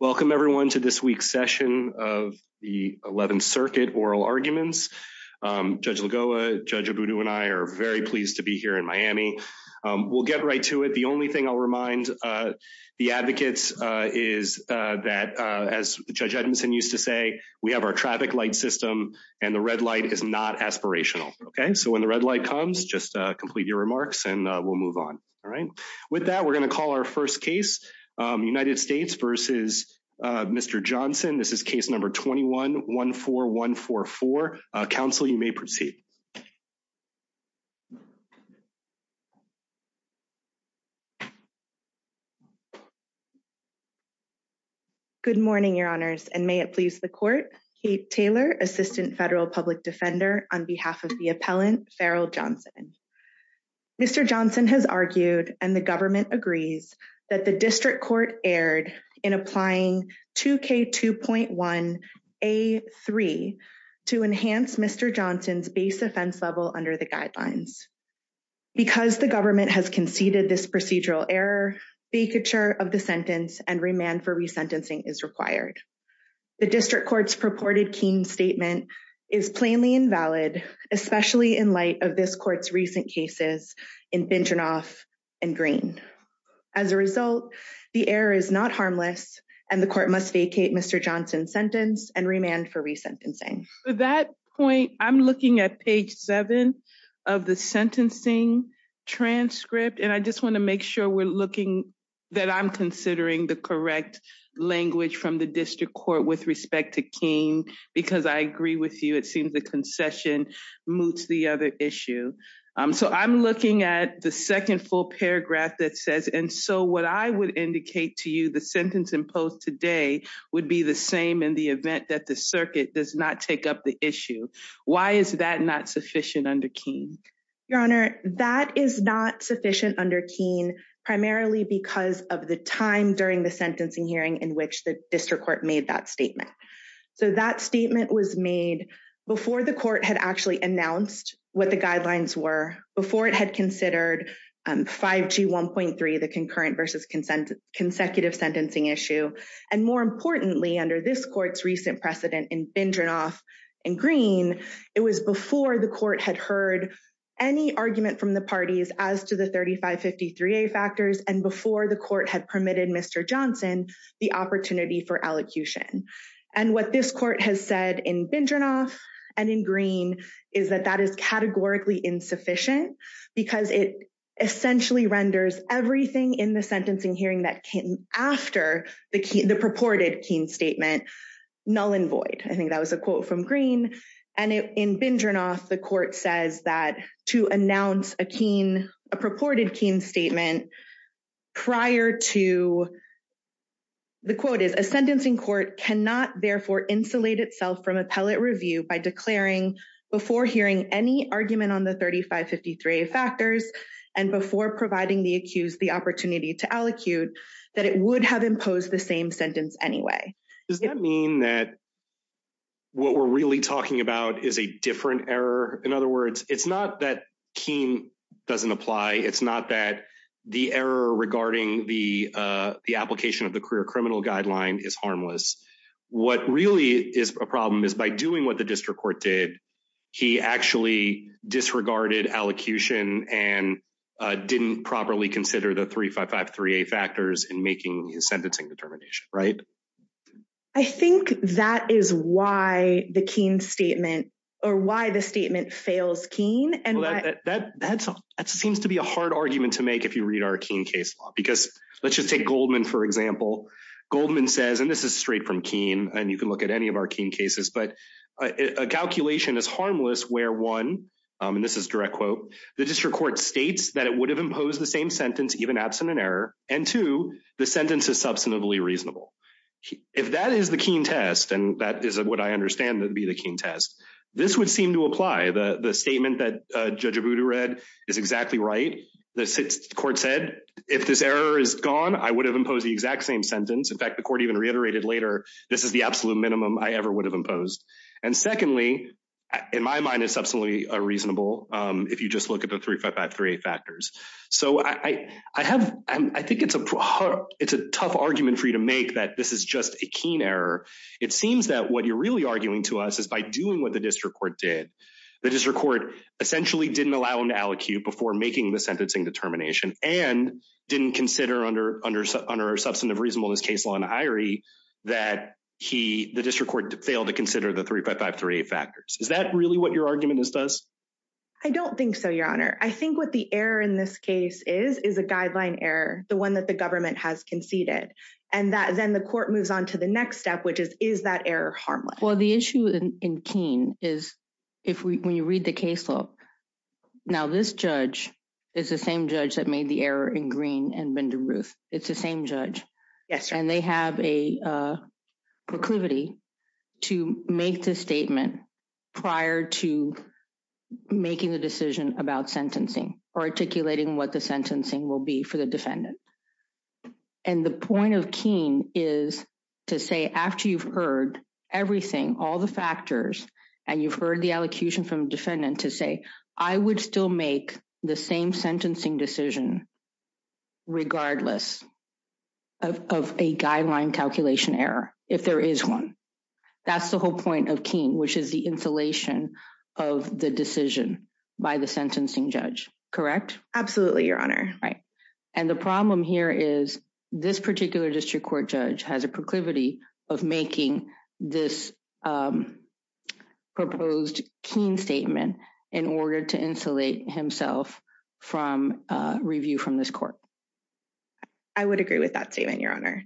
Welcome everyone to this week's session of the 11th Circuit Oral Arguments. Judge Lagoa, Judge Abudu, and I are very pleased to be here in Miami. We'll get right to it. The only thing I'll remind the advocates is that, as Judge Edmondson used to say, we have our traffic light system and the red light is not aspirational. OK, so when the red light comes, just complete your remarks and we'll move on. All right. With that, we're going to call our first case, United States v. Mr. Johnson. This is case number 21-14144. Counsel, you may proceed. Good morning, Your Honors, and may it please the court. Kate Taylor, Assistant Federal Public Defender, on behalf of the appellant, Farrell Johnson. Mr. Johnson has argued, and the government agrees, that the district court erred in applying 2K2.1A3 to enhance Mr. Johnson's base offense level under the guidelines. Because the government has conceded this procedural error, vacature of the sentence and remand for resentencing is required. The district court's purported keen statement is plainly invalid, especially in light of this court's recent cases in Binternoff and Green. As a result, the error is not harmless, and the court must vacate Mr. Johnson's sentence and remand for resentencing. At that point, I'm looking at page 7 of the sentencing transcript, and I just want to make sure that I'm considering the correct language from the district court with respect to keen, because I agree with you, it seems the concession moots the other issue. So I'm looking at the second full paragraph that says, and so what I would indicate to you, the sentence imposed today would be the same in the event that the circuit does not take up the issue. Why is that not sufficient under keen? Your Honor, that is not sufficient under keen, primarily because of the time during the sentencing hearing in which the district court made that statement. So that statement was made before the court had actually announced what the guidelines were, before it had considered 5G 1.3, the concurrent versus consecutive sentencing issue. And more importantly, under this court's recent precedent in Binternoff and Green, it was before the court had heard any argument from the parties as to the 3553A factors, and before the court had permitted Mr. Johnson the opportunity for allocution. And what this court has said in Binternoff and in Green is that that is categorically insufficient, because it essentially renders everything in the sentencing hearing that came after the purported keen statement null and void. I think that was a quote from Green, and in Binternoff, the court says that to announce a keen, a purported keen statement prior to, the quote is, a sentencing court cannot therefore insulate itself from appellate review by declaring before hearing any argument on the 3553A factors, and before providing the accused the opportunity to allocute, that it would have imposed the same sentence anyway. Does that mean that what we're really talking about is a different error? In other words, it's not that keen doesn't apply. It's not that the error regarding the application of the career criminal guideline is harmless. What really is a problem is by doing what the district court did, he actually disregarded allocution and didn't properly consider the 3553A factors in making his sentencing determination, right? I think that is why the keen statement or why the statement fails keen. And that seems to be a hard argument to make if you read our keen case law, because let's just take Goldman, for example. Goldman says, and this is straight from keen and you can look at any of our keen cases, but a calculation is harmless where one, and this is direct quote, the district court states that it would have imposed the same sentence, even absent an error. And two, the sentence is substantively reasonable. If that is the keen test, and that is what I understand to be the keen test, this would seem to apply. The statement that Judge Abudu read is exactly right. The court said, if this error is gone, I would have imposed the exact same sentence. In fact, the court even reiterated later, this is the absolute minimum I ever would have imposed. And secondly, in my mind, it's absolutely reasonable if you just look at the 3553A factors. So I think it's a tough argument for you to make that this is just a keen error. It seems that what you're really arguing to us is by doing what the district court did. The district court essentially didn't allow an aliquot before making the sentencing determination and didn't consider under our substantive reasonableness case law in Irie, that the district court failed to consider the 3553A factors. Is that really what your argument is to us? I don't think so, Your Honor. I think what the error in this case is, is a guideline error, the one that the government has conceded. And then the court moves on to the next step, which is, is that error harmless? Well, the issue in Keene is when you read the case law. Now, this judge is the same judge that made the error in Green and Bender Ruth. It's the same judge. And they have a proclivity to make the statement prior to making the decision about sentencing or articulating what the sentencing will be for the defendant. And the point of Keene is to say, after you've heard everything, all the factors, and you've heard the elocution from defendant to say, I would still make the same sentencing decision regardless of a guideline calculation error, if there is one. That's the whole point of Keene, which is the insulation of the decision by the sentencing judge. Correct? Absolutely, Your Honor. Right. And the problem here is this particular district court judge has a proclivity of making this proposed Keene statement in order to insulate himself from review from this court. I would agree with that statement, Your Honor.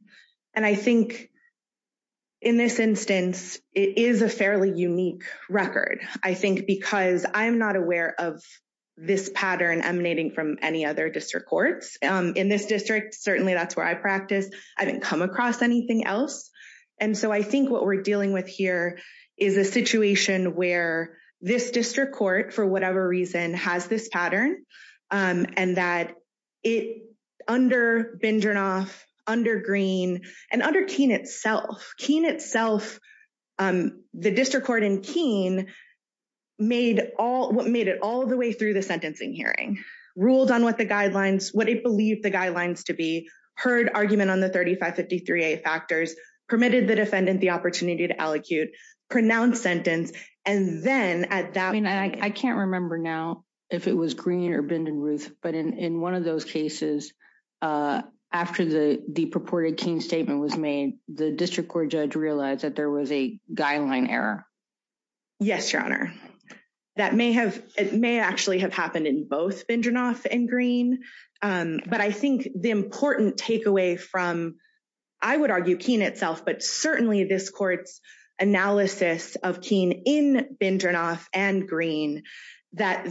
And I think in this instance, it is a fairly unique record. I think because I'm not aware of this pattern emanating from any other district courts. In this district, certainly that's where I practice. I didn't come across anything else. And so I think what we're dealing with here is a situation where this district court, for whatever reason, has this pattern, and that under Bindernoff, under Green, and under Keene itself, Keene itself, the district court in Keene made it all the way through the sentencing hearing, ruled on what the guidelines, what it believed the guidelines to be, heard argument on the 3553A factors, permitted the defendant the opportunity to allocute, pronounced sentence, and then at that point… I mean, I can't remember now if it was Green or Bindernoff, but in one of those cases, after the purported Keene statement was made, the district court judge realized that there was a guideline error. Yes, Your Honor. It may actually have happened in both Bindernoff and Green, but I think the important takeaway from, I would argue, Keene itself, but certainly this court's analysis of Keene in Bindernoff and Green, that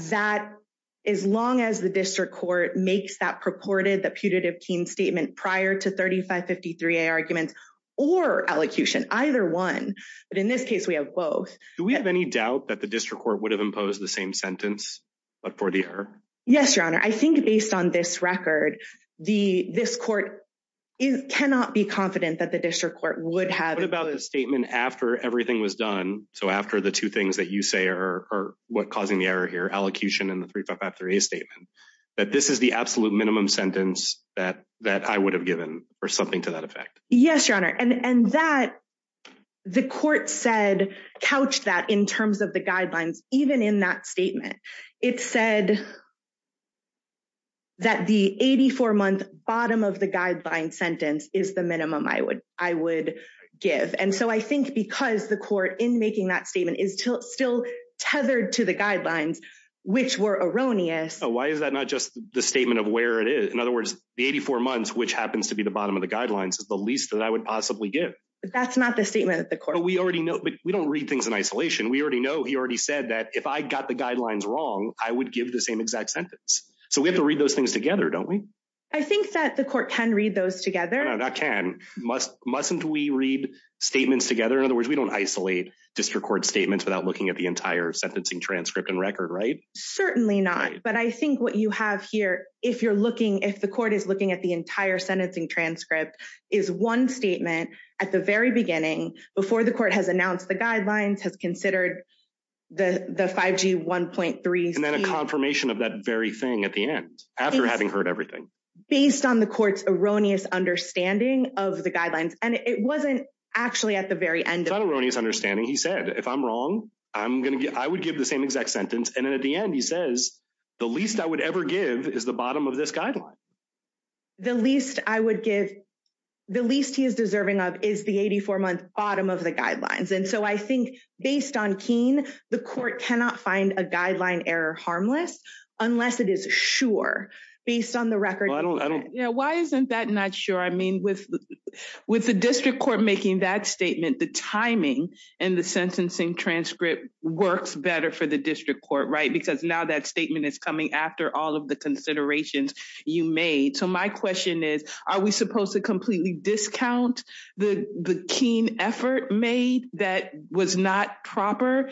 as long as the district court makes that purported, that putative Keene statement prior to 3553A arguments, or allocution, either one, but in this case we have both… Do we have any doubt that the district court would have imposed the same sentence, but for the error? Yes, Your Honor. I think based on this record, this court cannot be confident that the district court would have… What about the statement after everything was done, so after the two things that you say are causing the error here, allocution and the 3553A statement, that this is the absolute minimum sentence that I would have given, or something to that effect? Yes, Your Honor, and that, the court said, couched that in terms of the guidelines, even in that statement. It said that the 84-month bottom of the guideline sentence is the minimum I would give, and so I think because the court, in making that statement, is still tethered to the guidelines, which were erroneous… Why is that not just the statement of where it is? In other words, the 84 months, which happens to be the bottom of the guidelines, is the least that I would possibly give. That's not the statement that the court… But we don't read things in isolation. We already know. He already said that if I got the guidelines wrong, I would give the same exact sentence. So we have to read those things together, don't we? I think that the court can read those together. No, not can. Mustn't we read statements together? In other words, we don't isolate district court statements without looking at the entire sentencing transcript and record, right? Certainly not, but I think what you have here, if the court is looking at the entire sentencing transcript, is one statement at the very beginning, before the court has announced the guidelines, has considered the 5G 1.3… And then a confirmation of that very thing at the end, after having heard everything. Based on the court's erroneous understanding of the guidelines, and it wasn't actually at the very end… It's not an erroneous understanding. He said, if I'm wrong, I would give the same exact sentence, and then at the end he says, the least I would ever give is the bottom of this guideline. The least I would give, the least he is deserving of, is the 84-month bottom of the guidelines. And so I think, based on Keene, the court cannot find a guideline error harmless, unless it is sure, based on the record. Why isn't that not sure? I mean, with the district court making that statement, the timing and the sentencing transcript works better for the district court, right? Because now that statement is coming after all of the considerations you made. So my question is, are we supposed to completely discount the Keene effort made, that was not proper,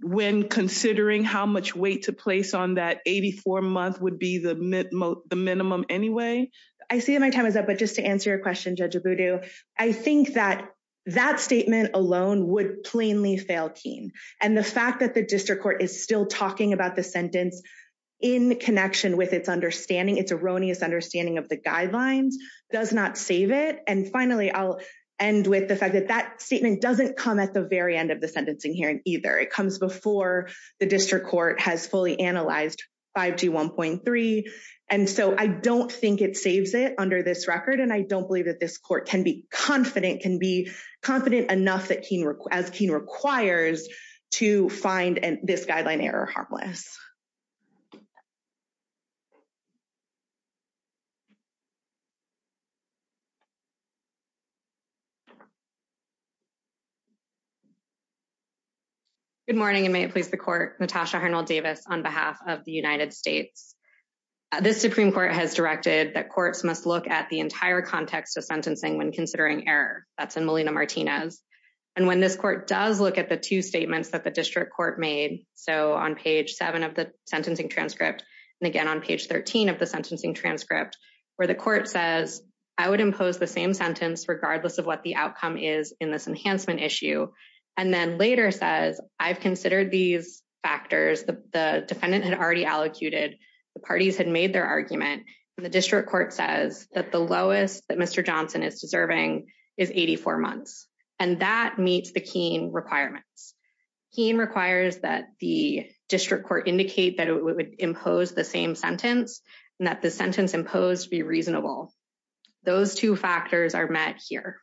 when considering how much weight to place on that 84-month would be the minimum anyway? I see that my time is up, but just to answer your question, Judge Abudu, I think that that statement alone would plainly fail Keene. And the fact that the district court is still talking about the sentence in connection with its understanding, its erroneous understanding of the guidelines, does not save it. And finally, I'll end with the fact that that statement doesn't come at the very end of the sentencing hearing either. It comes before the district court has fully analyzed 5G1.3. And so I don't think it saves it under this record, and I don't believe that this court can be confident, can be confident enough that Keene, as Keene requires, to find this guideline error harmless. Good morning, and may it please the court, Natasha Hernald-Davis on behalf of the United States. This Supreme Court has directed that courts must look at the entire context of sentencing when considering error. That's in Molina-Martinez. And when this court does look at the two statements that the district court made, so on page 7 of the sentencing transcript, and again on page 13 of the sentencing transcript, where the court says, I would impose the same sentence regardless of what the outcome is in this enhancement issue, and then later says, I've considered these factors, the defendant had already allocated, the parties had made their argument, and the district court says that the lowest that Mr. Johnson is deserving is 84 months. And that meets the Keene requirements. Keene requires that the district court indicate that it would impose the same sentence, and that the sentence imposed be reasonable. Those two factors are met here.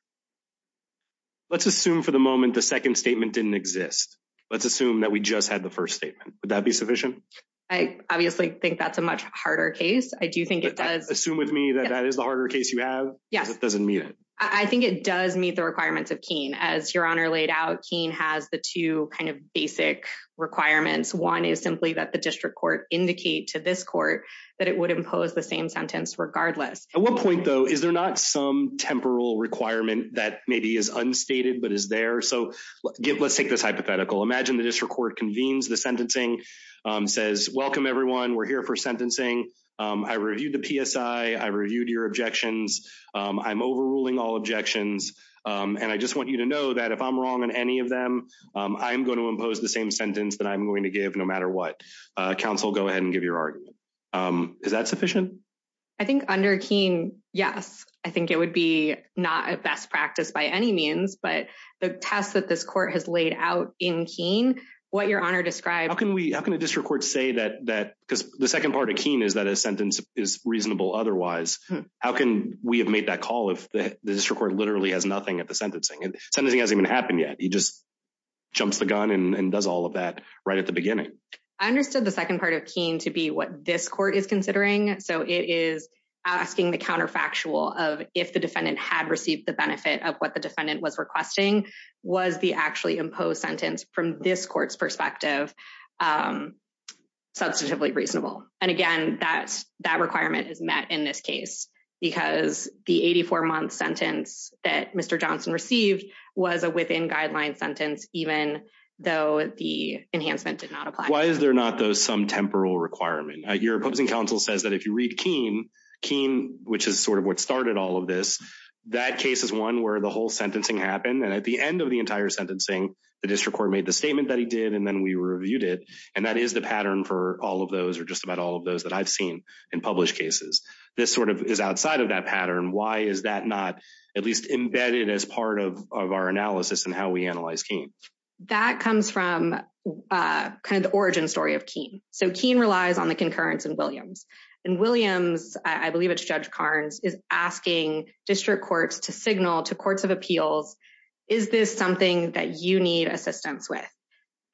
Let's assume for the moment the second statement didn't exist. Let's assume that we just had the first statement. Would that be sufficient? I obviously think that's a much harder case. I do think it does. Assume with me that that is the harder case you have. Yes. Because it doesn't meet it. I think it does meet the requirements of Keene. As Your Honor laid out, Keene has the two kind of basic requirements. One is simply that the district court indicate to this court that it would impose the same sentence regardless. At what point, though, is there not some temporal requirement that maybe is unstated but is there? So let's take this hypothetical. Imagine the district court convenes. The sentencing says, welcome, everyone. We're here for sentencing. I reviewed the PSI. I reviewed your objections. I'm overruling all objections, and I just want you to know that if I'm wrong on any of them, I'm going to impose the same sentence that I'm going to give no matter what. Counsel, go ahead and give your argument. Is that sufficient? I think under Keene, yes. I think it would be not a best practice by any means. But the test that this court has laid out in Keene, what Your Honor described – How can a district court say that – because the second part of Keene is that a sentence is reasonable otherwise. How can we have made that call if the district court literally has nothing at the sentencing? Sentencing hasn't even happened yet. He just jumps the gun and does all of that right at the beginning. I understood the second part of Keene to be what this court is considering. So it is asking the counterfactual of if the defendant had received the benefit of what the defendant was requesting. Was the actually imposed sentence from this court's perspective substantively reasonable? And, again, that requirement is met in this case because the 84-month sentence that Mr. Johnson received was a within-guideline sentence even though the enhancement did not apply. Why is there not, though, some temporal requirement? Your opposing counsel says that if you read Keene, Keene, which is sort of what started all of this, that case is one where the whole sentencing happened. And at the end of the entire sentencing, the district court made the statement that he did, and then we reviewed it. And that is the pattern for all of those or just about all of those that I've seen in published cases. This sort of is outside of that pattern. Why is that not at least embedded as part of our analysis and how we analyze Keene? That comes from kind of the origin story of Keene. So Keene relies on the concurrence in Williams. And Williams, I believe it's Judge Carnes, is asking district courts to signal to courts of appeals, is this something that you need assistance with?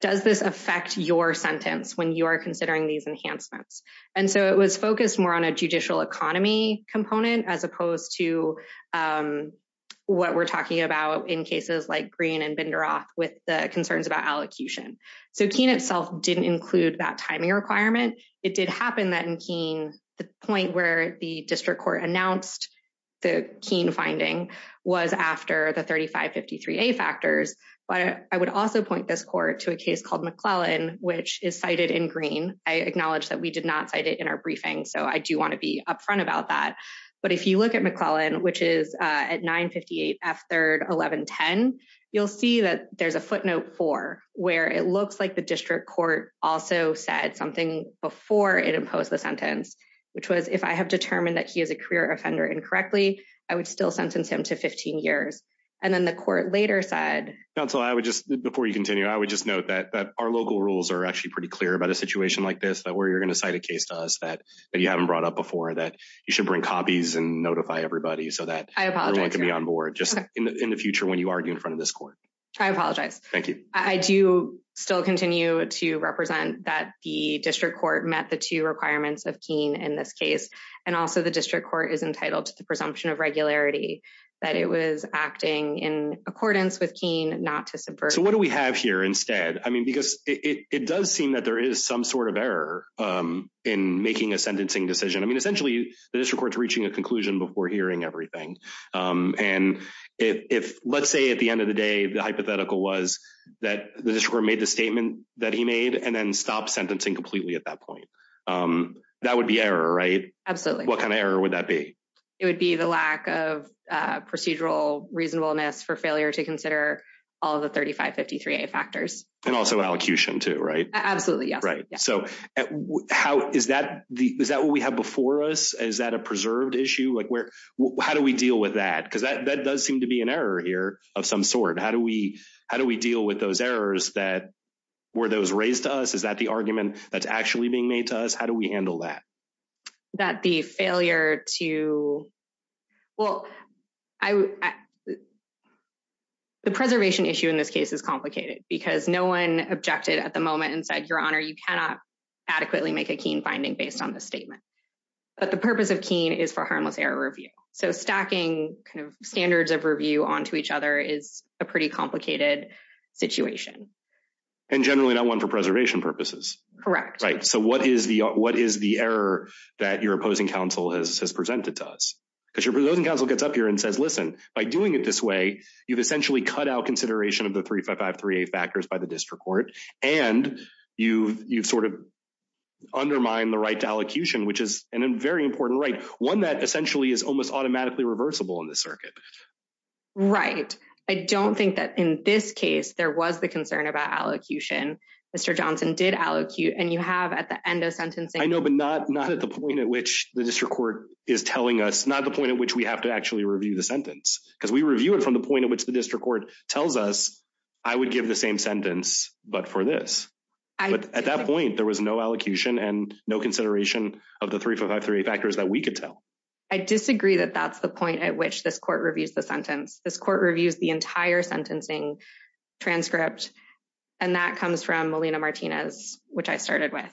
Does this affect your sentence when you are considering these enhancements? And so it was focused more on a judicial economy component as opposed to what we're talking about in cases like Green and Binderoth with the concerns about allocution. So Keene itself didn't include that timing requirement. It did happen that in Keene, the point where the district court announced the Keene finding was after the 3553A factors. But I would also point this court to a case called McClellan, which is cited in Green. I acknowledge that we did not cite it in our briefing, so I do want to be upfront about that. But if you look at McClellan, which is at 958 F 3rd, 1110, you'll see that there's a footnote for where it looks like the district court also said something before it imposed the sentence, which was if I have determined that he is a career offender incorrectly, I would still sentence him to 15 years. And then the court later said. So I would just before you continue, I would just note that our local rules are actually pretty clear about a situation like this, but where you're going to cite a case to us that you haven't brought up before that you should bring copies and notify everybody so that I apologize to be on board just in the future when you argue in front of this court. I apologize. Thank you. I do still continue to represent that the district court met the two requirements of Keene in this case. And also the district court is entitled to the presumption of regularity that it was acting in accordance with Keene not to subvert. So what do we have here instead? I mean, because it does seem that there is some sort of error in making a sentencing decision. I mean, essentially, the district court is reaching a conclusion before hearing everything. And if let's say at the end of the day, the hypothetical was that the district made the statement that he made and then stopped sentencing completely at that point. That would be error, right? Absolutely. What kind of error would that be? It would be the lack of procedural reasonableness for failure to consider all the thirty five fifty three factors. And also allocution, too, right? Absolutely. Right. So how is that? Is that what we have before us? Is that a preserved issue? Like where how do we deal with that? Because that does seem to be an error here of some sort. How do we how do we deal with those errors that were those raised to us? Is that the argument that's actually being made to us? How do we handle that? That the failure to. Well, I. The preservation issue in this case is complicated because no one objected at the moment and said, your honor, you cannot adequately make a keen finding based on the statement, but the purpose of keen is for harmless error review. So stacking kind of standards of review onto each other is a pretty complicated situation and generally not one for preservation purposes. Correct. Right. So what is the what is the error that your opposing counsel has presented to us? Because your opposing counsel gets up here and says, listen, by doing it this way, you've essentially cut out consideration of the three, five, five, three factors by the district court. And you you've sort of undermined the right to allocution, which is a very important right. One that essentially is almost automatically reversible in the circuit. Right. I don't think that in this case there was the concern about allocution. Mr. Johnson did allocate and you have at the end of sentencing. I know, but not not at the point at which the district court is telling us, not the point at which we have to actually review the sentence, because we review it from the point at which the district court tells us I would give the same sentence. But for this, at that point, there was no allocation and no consideration of the three, five, three factors that we could tell. I disagree that that's the point at which this court reviews the sentence. This court reviews the entire sentencing transcript. And that comes from Molina Martinez, which I started with.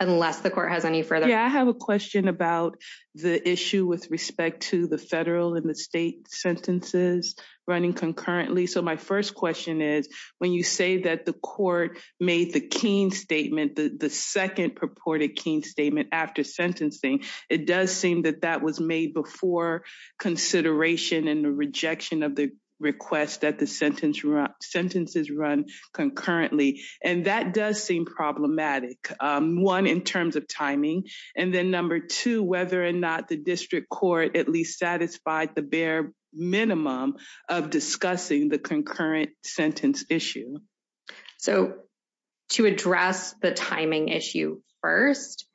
Unless the court has any further. Yeah, I have a question about the issue with respect to the federal and the state sentences running concurrently. So my first question is, when you say that the court made the Keene statement, the second purported Keene statement after sentencing, it does seem that that was made before consideration and the rejection of the request that the sentence sentences run concurrently. And that does seem problematic. One, in terms of timing. And then number two, whether or not the district court at least satisfied the bare minimum of discussing the concurrent sentence issue. So to address the timing issue first,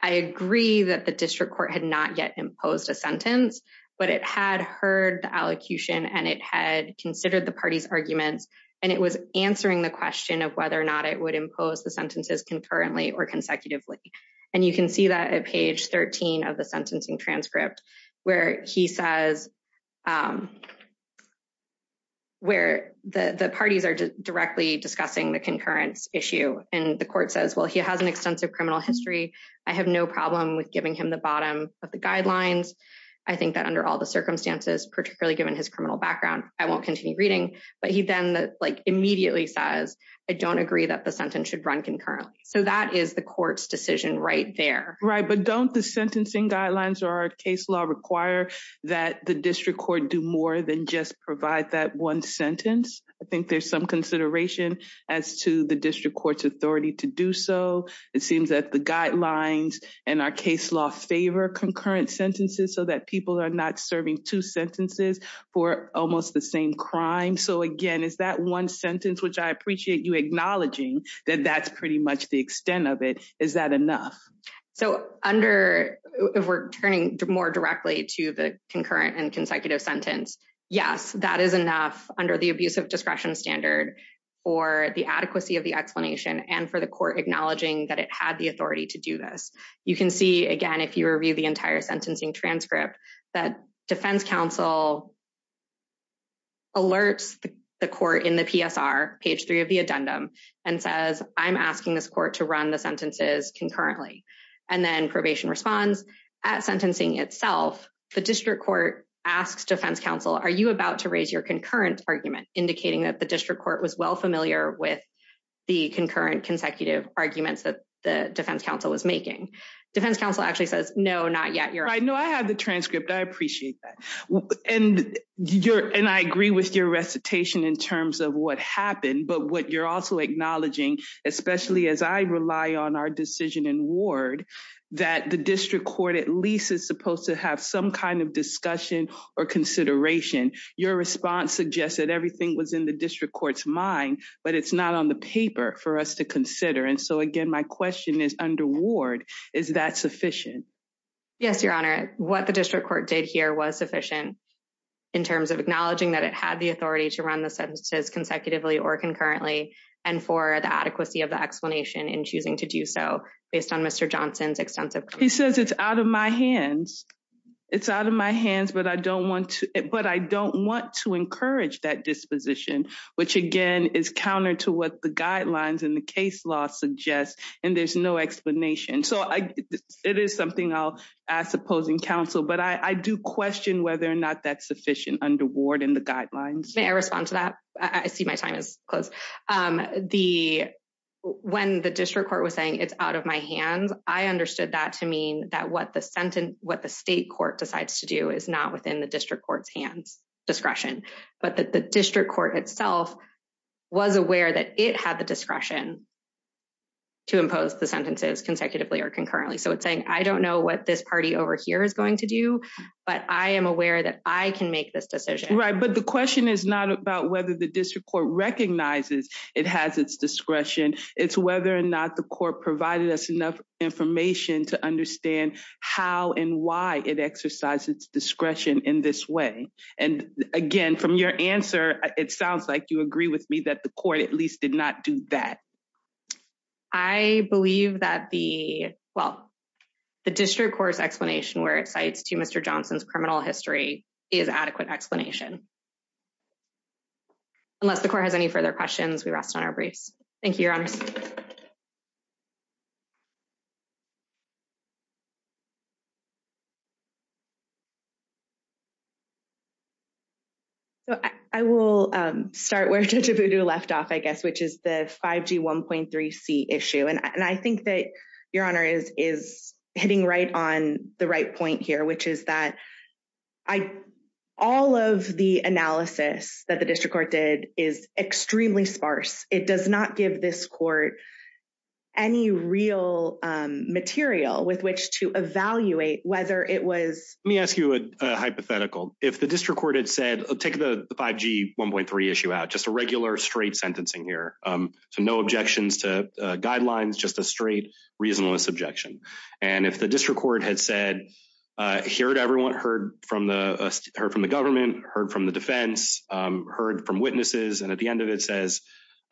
I agree that the district court had not yet imposed a sentence, but it had heard the allocution and it had considered the party's arguments. And it was answering the question of whether or not it would impose the sentences concurrently or consecutively. And you can see that at page 13 of the sentencing transcript where he says. Where the parties are directly discussing the concurrence issue and the court says, well, he has an extensive criminal history. I have no problem with giving him the bottom of the guidelines. I think that under all the circumstances, particularly given his criminal background, I won't continue reading. But he then immediately says, I don't agree that the sentence should run concurrently. So that is the court's decision right there. Right. But don't the sentencing guidelines or case law require that the district court do more than just provide that one sentence? I think there's some consideration as to the district court's authority to do so. It seems that the guidelines and our case law favor concurrent sentences so that people are not serving two sentences for almost the same crime. So, again, is that one sentence which I appreciate you acknowledging that that's pretty much the extent of it? Is that enough? So under if we're turning more directly to the concurrent and consecutive sentence? Yes, that is enough under the abuse of discretion standard for the adequacy of the explanation and for the court acknowledging that it had the authority to do this. You can see, again, if you review the entire sentencing transcript, that defense counsel. Alerts the court in the PSR, page three of the addendum, and says, I'm asking this court to run the sentences concurrently and then probation responds at sentencing itself. The district court asks defense counsel, are you about to raise your concurrent argument indicating that the district court was well familiar with the concurrent consecutive arguments that the defense counsel was making? Defense counsel actually says, no, not yet. I know I have the transcript. I appreciate that. And you're and I agree with your recitation in terms of what happened. But what you're also acknowledging, especially as I rely on our decision in ward, that the district court at least is supposed to have some kind of discussion or consideration. Your response suggests that everything was in the district court's mind, but it's not on the paper for us to consider. And so, again, my question is, under ward, is that sufficient? Yes, your honor. What the district court did here was sufficient in terms of acknowledging that it had the authority to run the sentences consecutively or concurrently. And for the adequacy of the explanation in choosing to do so based on Mr. Johnson's extensive. He says it's out of my hands. It's out of my hands. But I don't want to. But I don't want to encourage that disposition, which, again, is counter to what the guidelines in the case law suggests. And there's no explanation. So it is something I'll ask opposing counsel. But I do question whether or not that's sufficient under ward in the guidelines. May I respond to that? I see my time is close. The when the district court was saying it's out of my hands. I understood that to mean that what the sentence, what the state court decides to do is not within the district court's hands. Discretion, but that the district court itself was aware that it had the discretion. To impose the sentences consecutively or concurrently, so it's saying, I don't know what this party over here is going to do, but I am aware that I can make this decision, right? But the question is not about whether the district court recognizes it has its discretion. It's whether or not the court provided us enough information to understand how and why it exercises discretion in this way. And again, from your answer, it sounds like you agree with me that the court at least did not do that. I believe that the well, the district court's explanation where it cites to Mr. Johnson's criminal history is adequate explanation. Unless the court has any further questions, we rest on our briefs. Thank you, Your Honor. So I will start where to do left off, I guess, which is the 5G 1.3C issue. And I think that your honor is is hitting right on the right point here, which is that I all of the analysis that the district court did is extremely sparse. It does not give this court any real material with which to evaluate whether it was. Let me ask you a hypothetical. If the district court had said, take the 5G 1.3 issue out, just a regular straight sentencing here. So no objections to guidelines, just a straight reasonableness objection. And if the district court had said here to everyone heard from the heard from the government, heard from the defense, heard from witnesses. And at the end of it says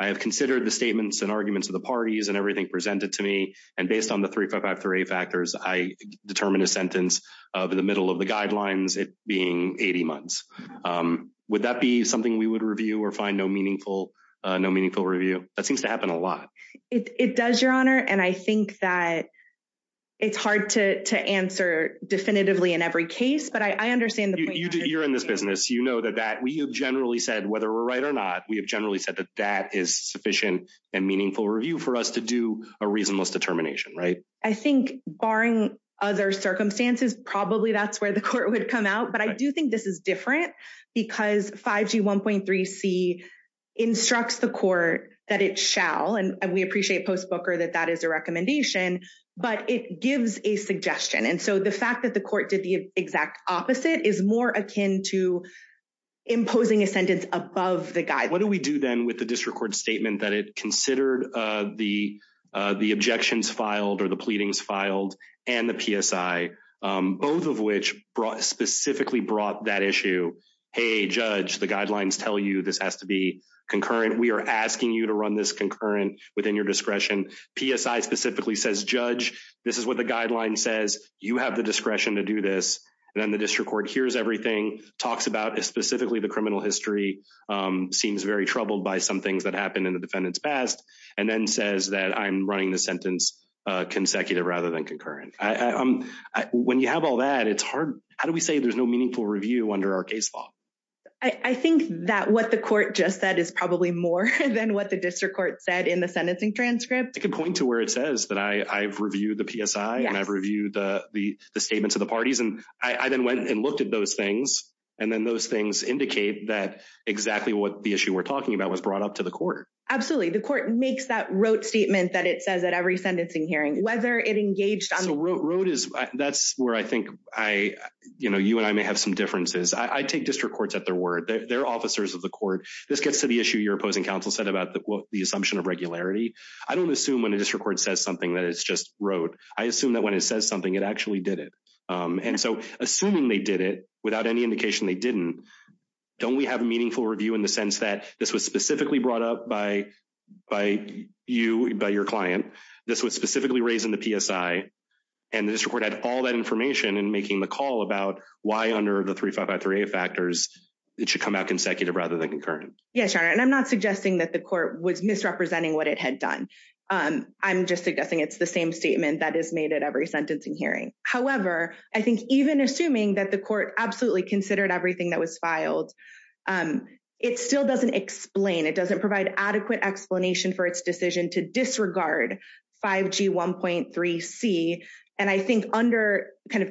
I have considered the statements and arguments of the parties and everything presented to me. And based on the three, five, five, three factors, I determine a sentence of the middle of the guidelines being 80 months. Would that be something we would review or find no meaningful, no meaningful review? That seems to happen a lot. It does, Your Honor. And I think that it's hard to answer definitively in every case. But I understand that you're in this business. You know that that we have generally said whether we're right or not. We have generally said that that is sufficient and meaningful review for us to do a reasonable determination. Right. I think barring other circumstances, probably that's where the court would come out. But I do think this is different because 5G 1.3C instructs the court that it shall. And we appreciate Post Booker that that is a recommendation, but it gives a suggestion. And so the fact that the court did the exact opposite is more akin to imposing a sentence above the guide. What do we do then with the district court statement that it considered the the objections filed or the pleadings filed? And the PSI, both of which brought specifically brought that issue. Hey, judge, the guidelines tell you this has to be concurrent. We are asking you to run this concurrent within your discretion. PSI specifically says, judge, this is what the guideline says. You have the discretion to do this. And then the district court hears everything, talks about specifically the criminal history, seems very troubled by some things that happened in the defendant's past and then says that I'm running the sentence consecutive rather than concurrent. When you have all that, it's hard. How do we say there's no meaningful review under our case law? I think that what the court just said is probably more than what the district court said in the sentencing transcript. I can point to where it says that I've reviewed the PSI and I've reviewed the statements of the parties. And I then went and looked at those things. And then those things indicate that exactly what the issue we're talking about was brought up to the court. Absolutely. The court makes that wrote statement that it says that every sentencing hearing, whether it engaged on the road is that's where I think I, you know, you and I may have some differences. I take district courts at their word. They're officers of the court. This gets to the issue. Your opposing counsel said about the assumption of regularity. I don't assume when a district court says something that it's just wrote. I assume that when it says something, it actually did it. And so assuming they did it without any indication they didn't. Don't we have a meaningful review in the sense that this was specifically brought up by by you, by your client? This was specifically raised in the PSI. And this report had all that information and making the call about why under the three five by three factors, it should come out consecutive rather than concurrent. Yes. And I'm not suggesting that the court was misrepresenting what it had done. I'm just suggesting it's the same statement that is made at every sentencing hearing. However, I think even assuming that the court absolutely considered everything that was filed, it still doesn't explain. It doesn't provide adequate explanation for its decision to disregard 5G 1.3C. And I think under kind of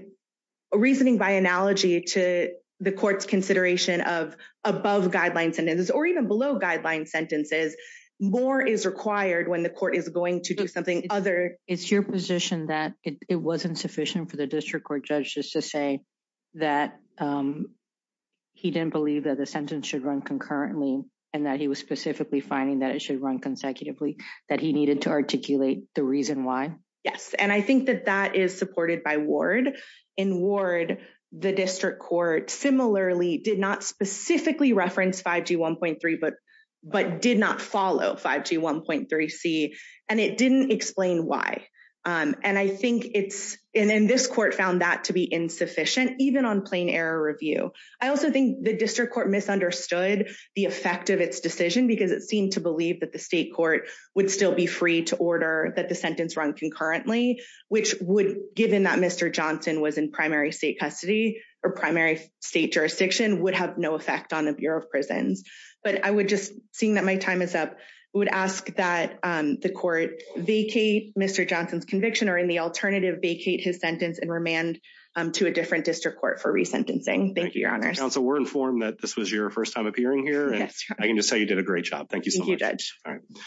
a reasoning by analogy to the court's consideration of above guidelines sentences or even below guidelines sentences, more is required when the court is going to do something other. It's your position that it wasn't sufficient for the district court judges to say that he didn't believe that the sentence should run concurrently and that he was specifically finding that it should run consecutively, that he needed to articulate the reason why. Yes. And I think that that is supported by Ward. In Ward, the district court similarly did not specifically reference 5G 1.3, but but did not follow 5G 1.3C. And it didn't explain why. And I think it's in this court found that to be insufficient, even on plain error review. I also think the district court misunderstood the effect of its decision because it seemed to believe that the state court would still be free to order that the sentence run concurrently, which would given that Mr. Johnson was in primary state custody or primary state jurisdiction would have no effect on the Bureau of Prisons. But I would just seeing that my time is up, I would ask that the court vacate Mr. Johnson's conviction or in the alternative vacate his sentence and remand to a different district court for resentencing. Thank you, Your Honor. So we're informed that this was your first time appearing here. And I can just say you did a great job. Thank you so much.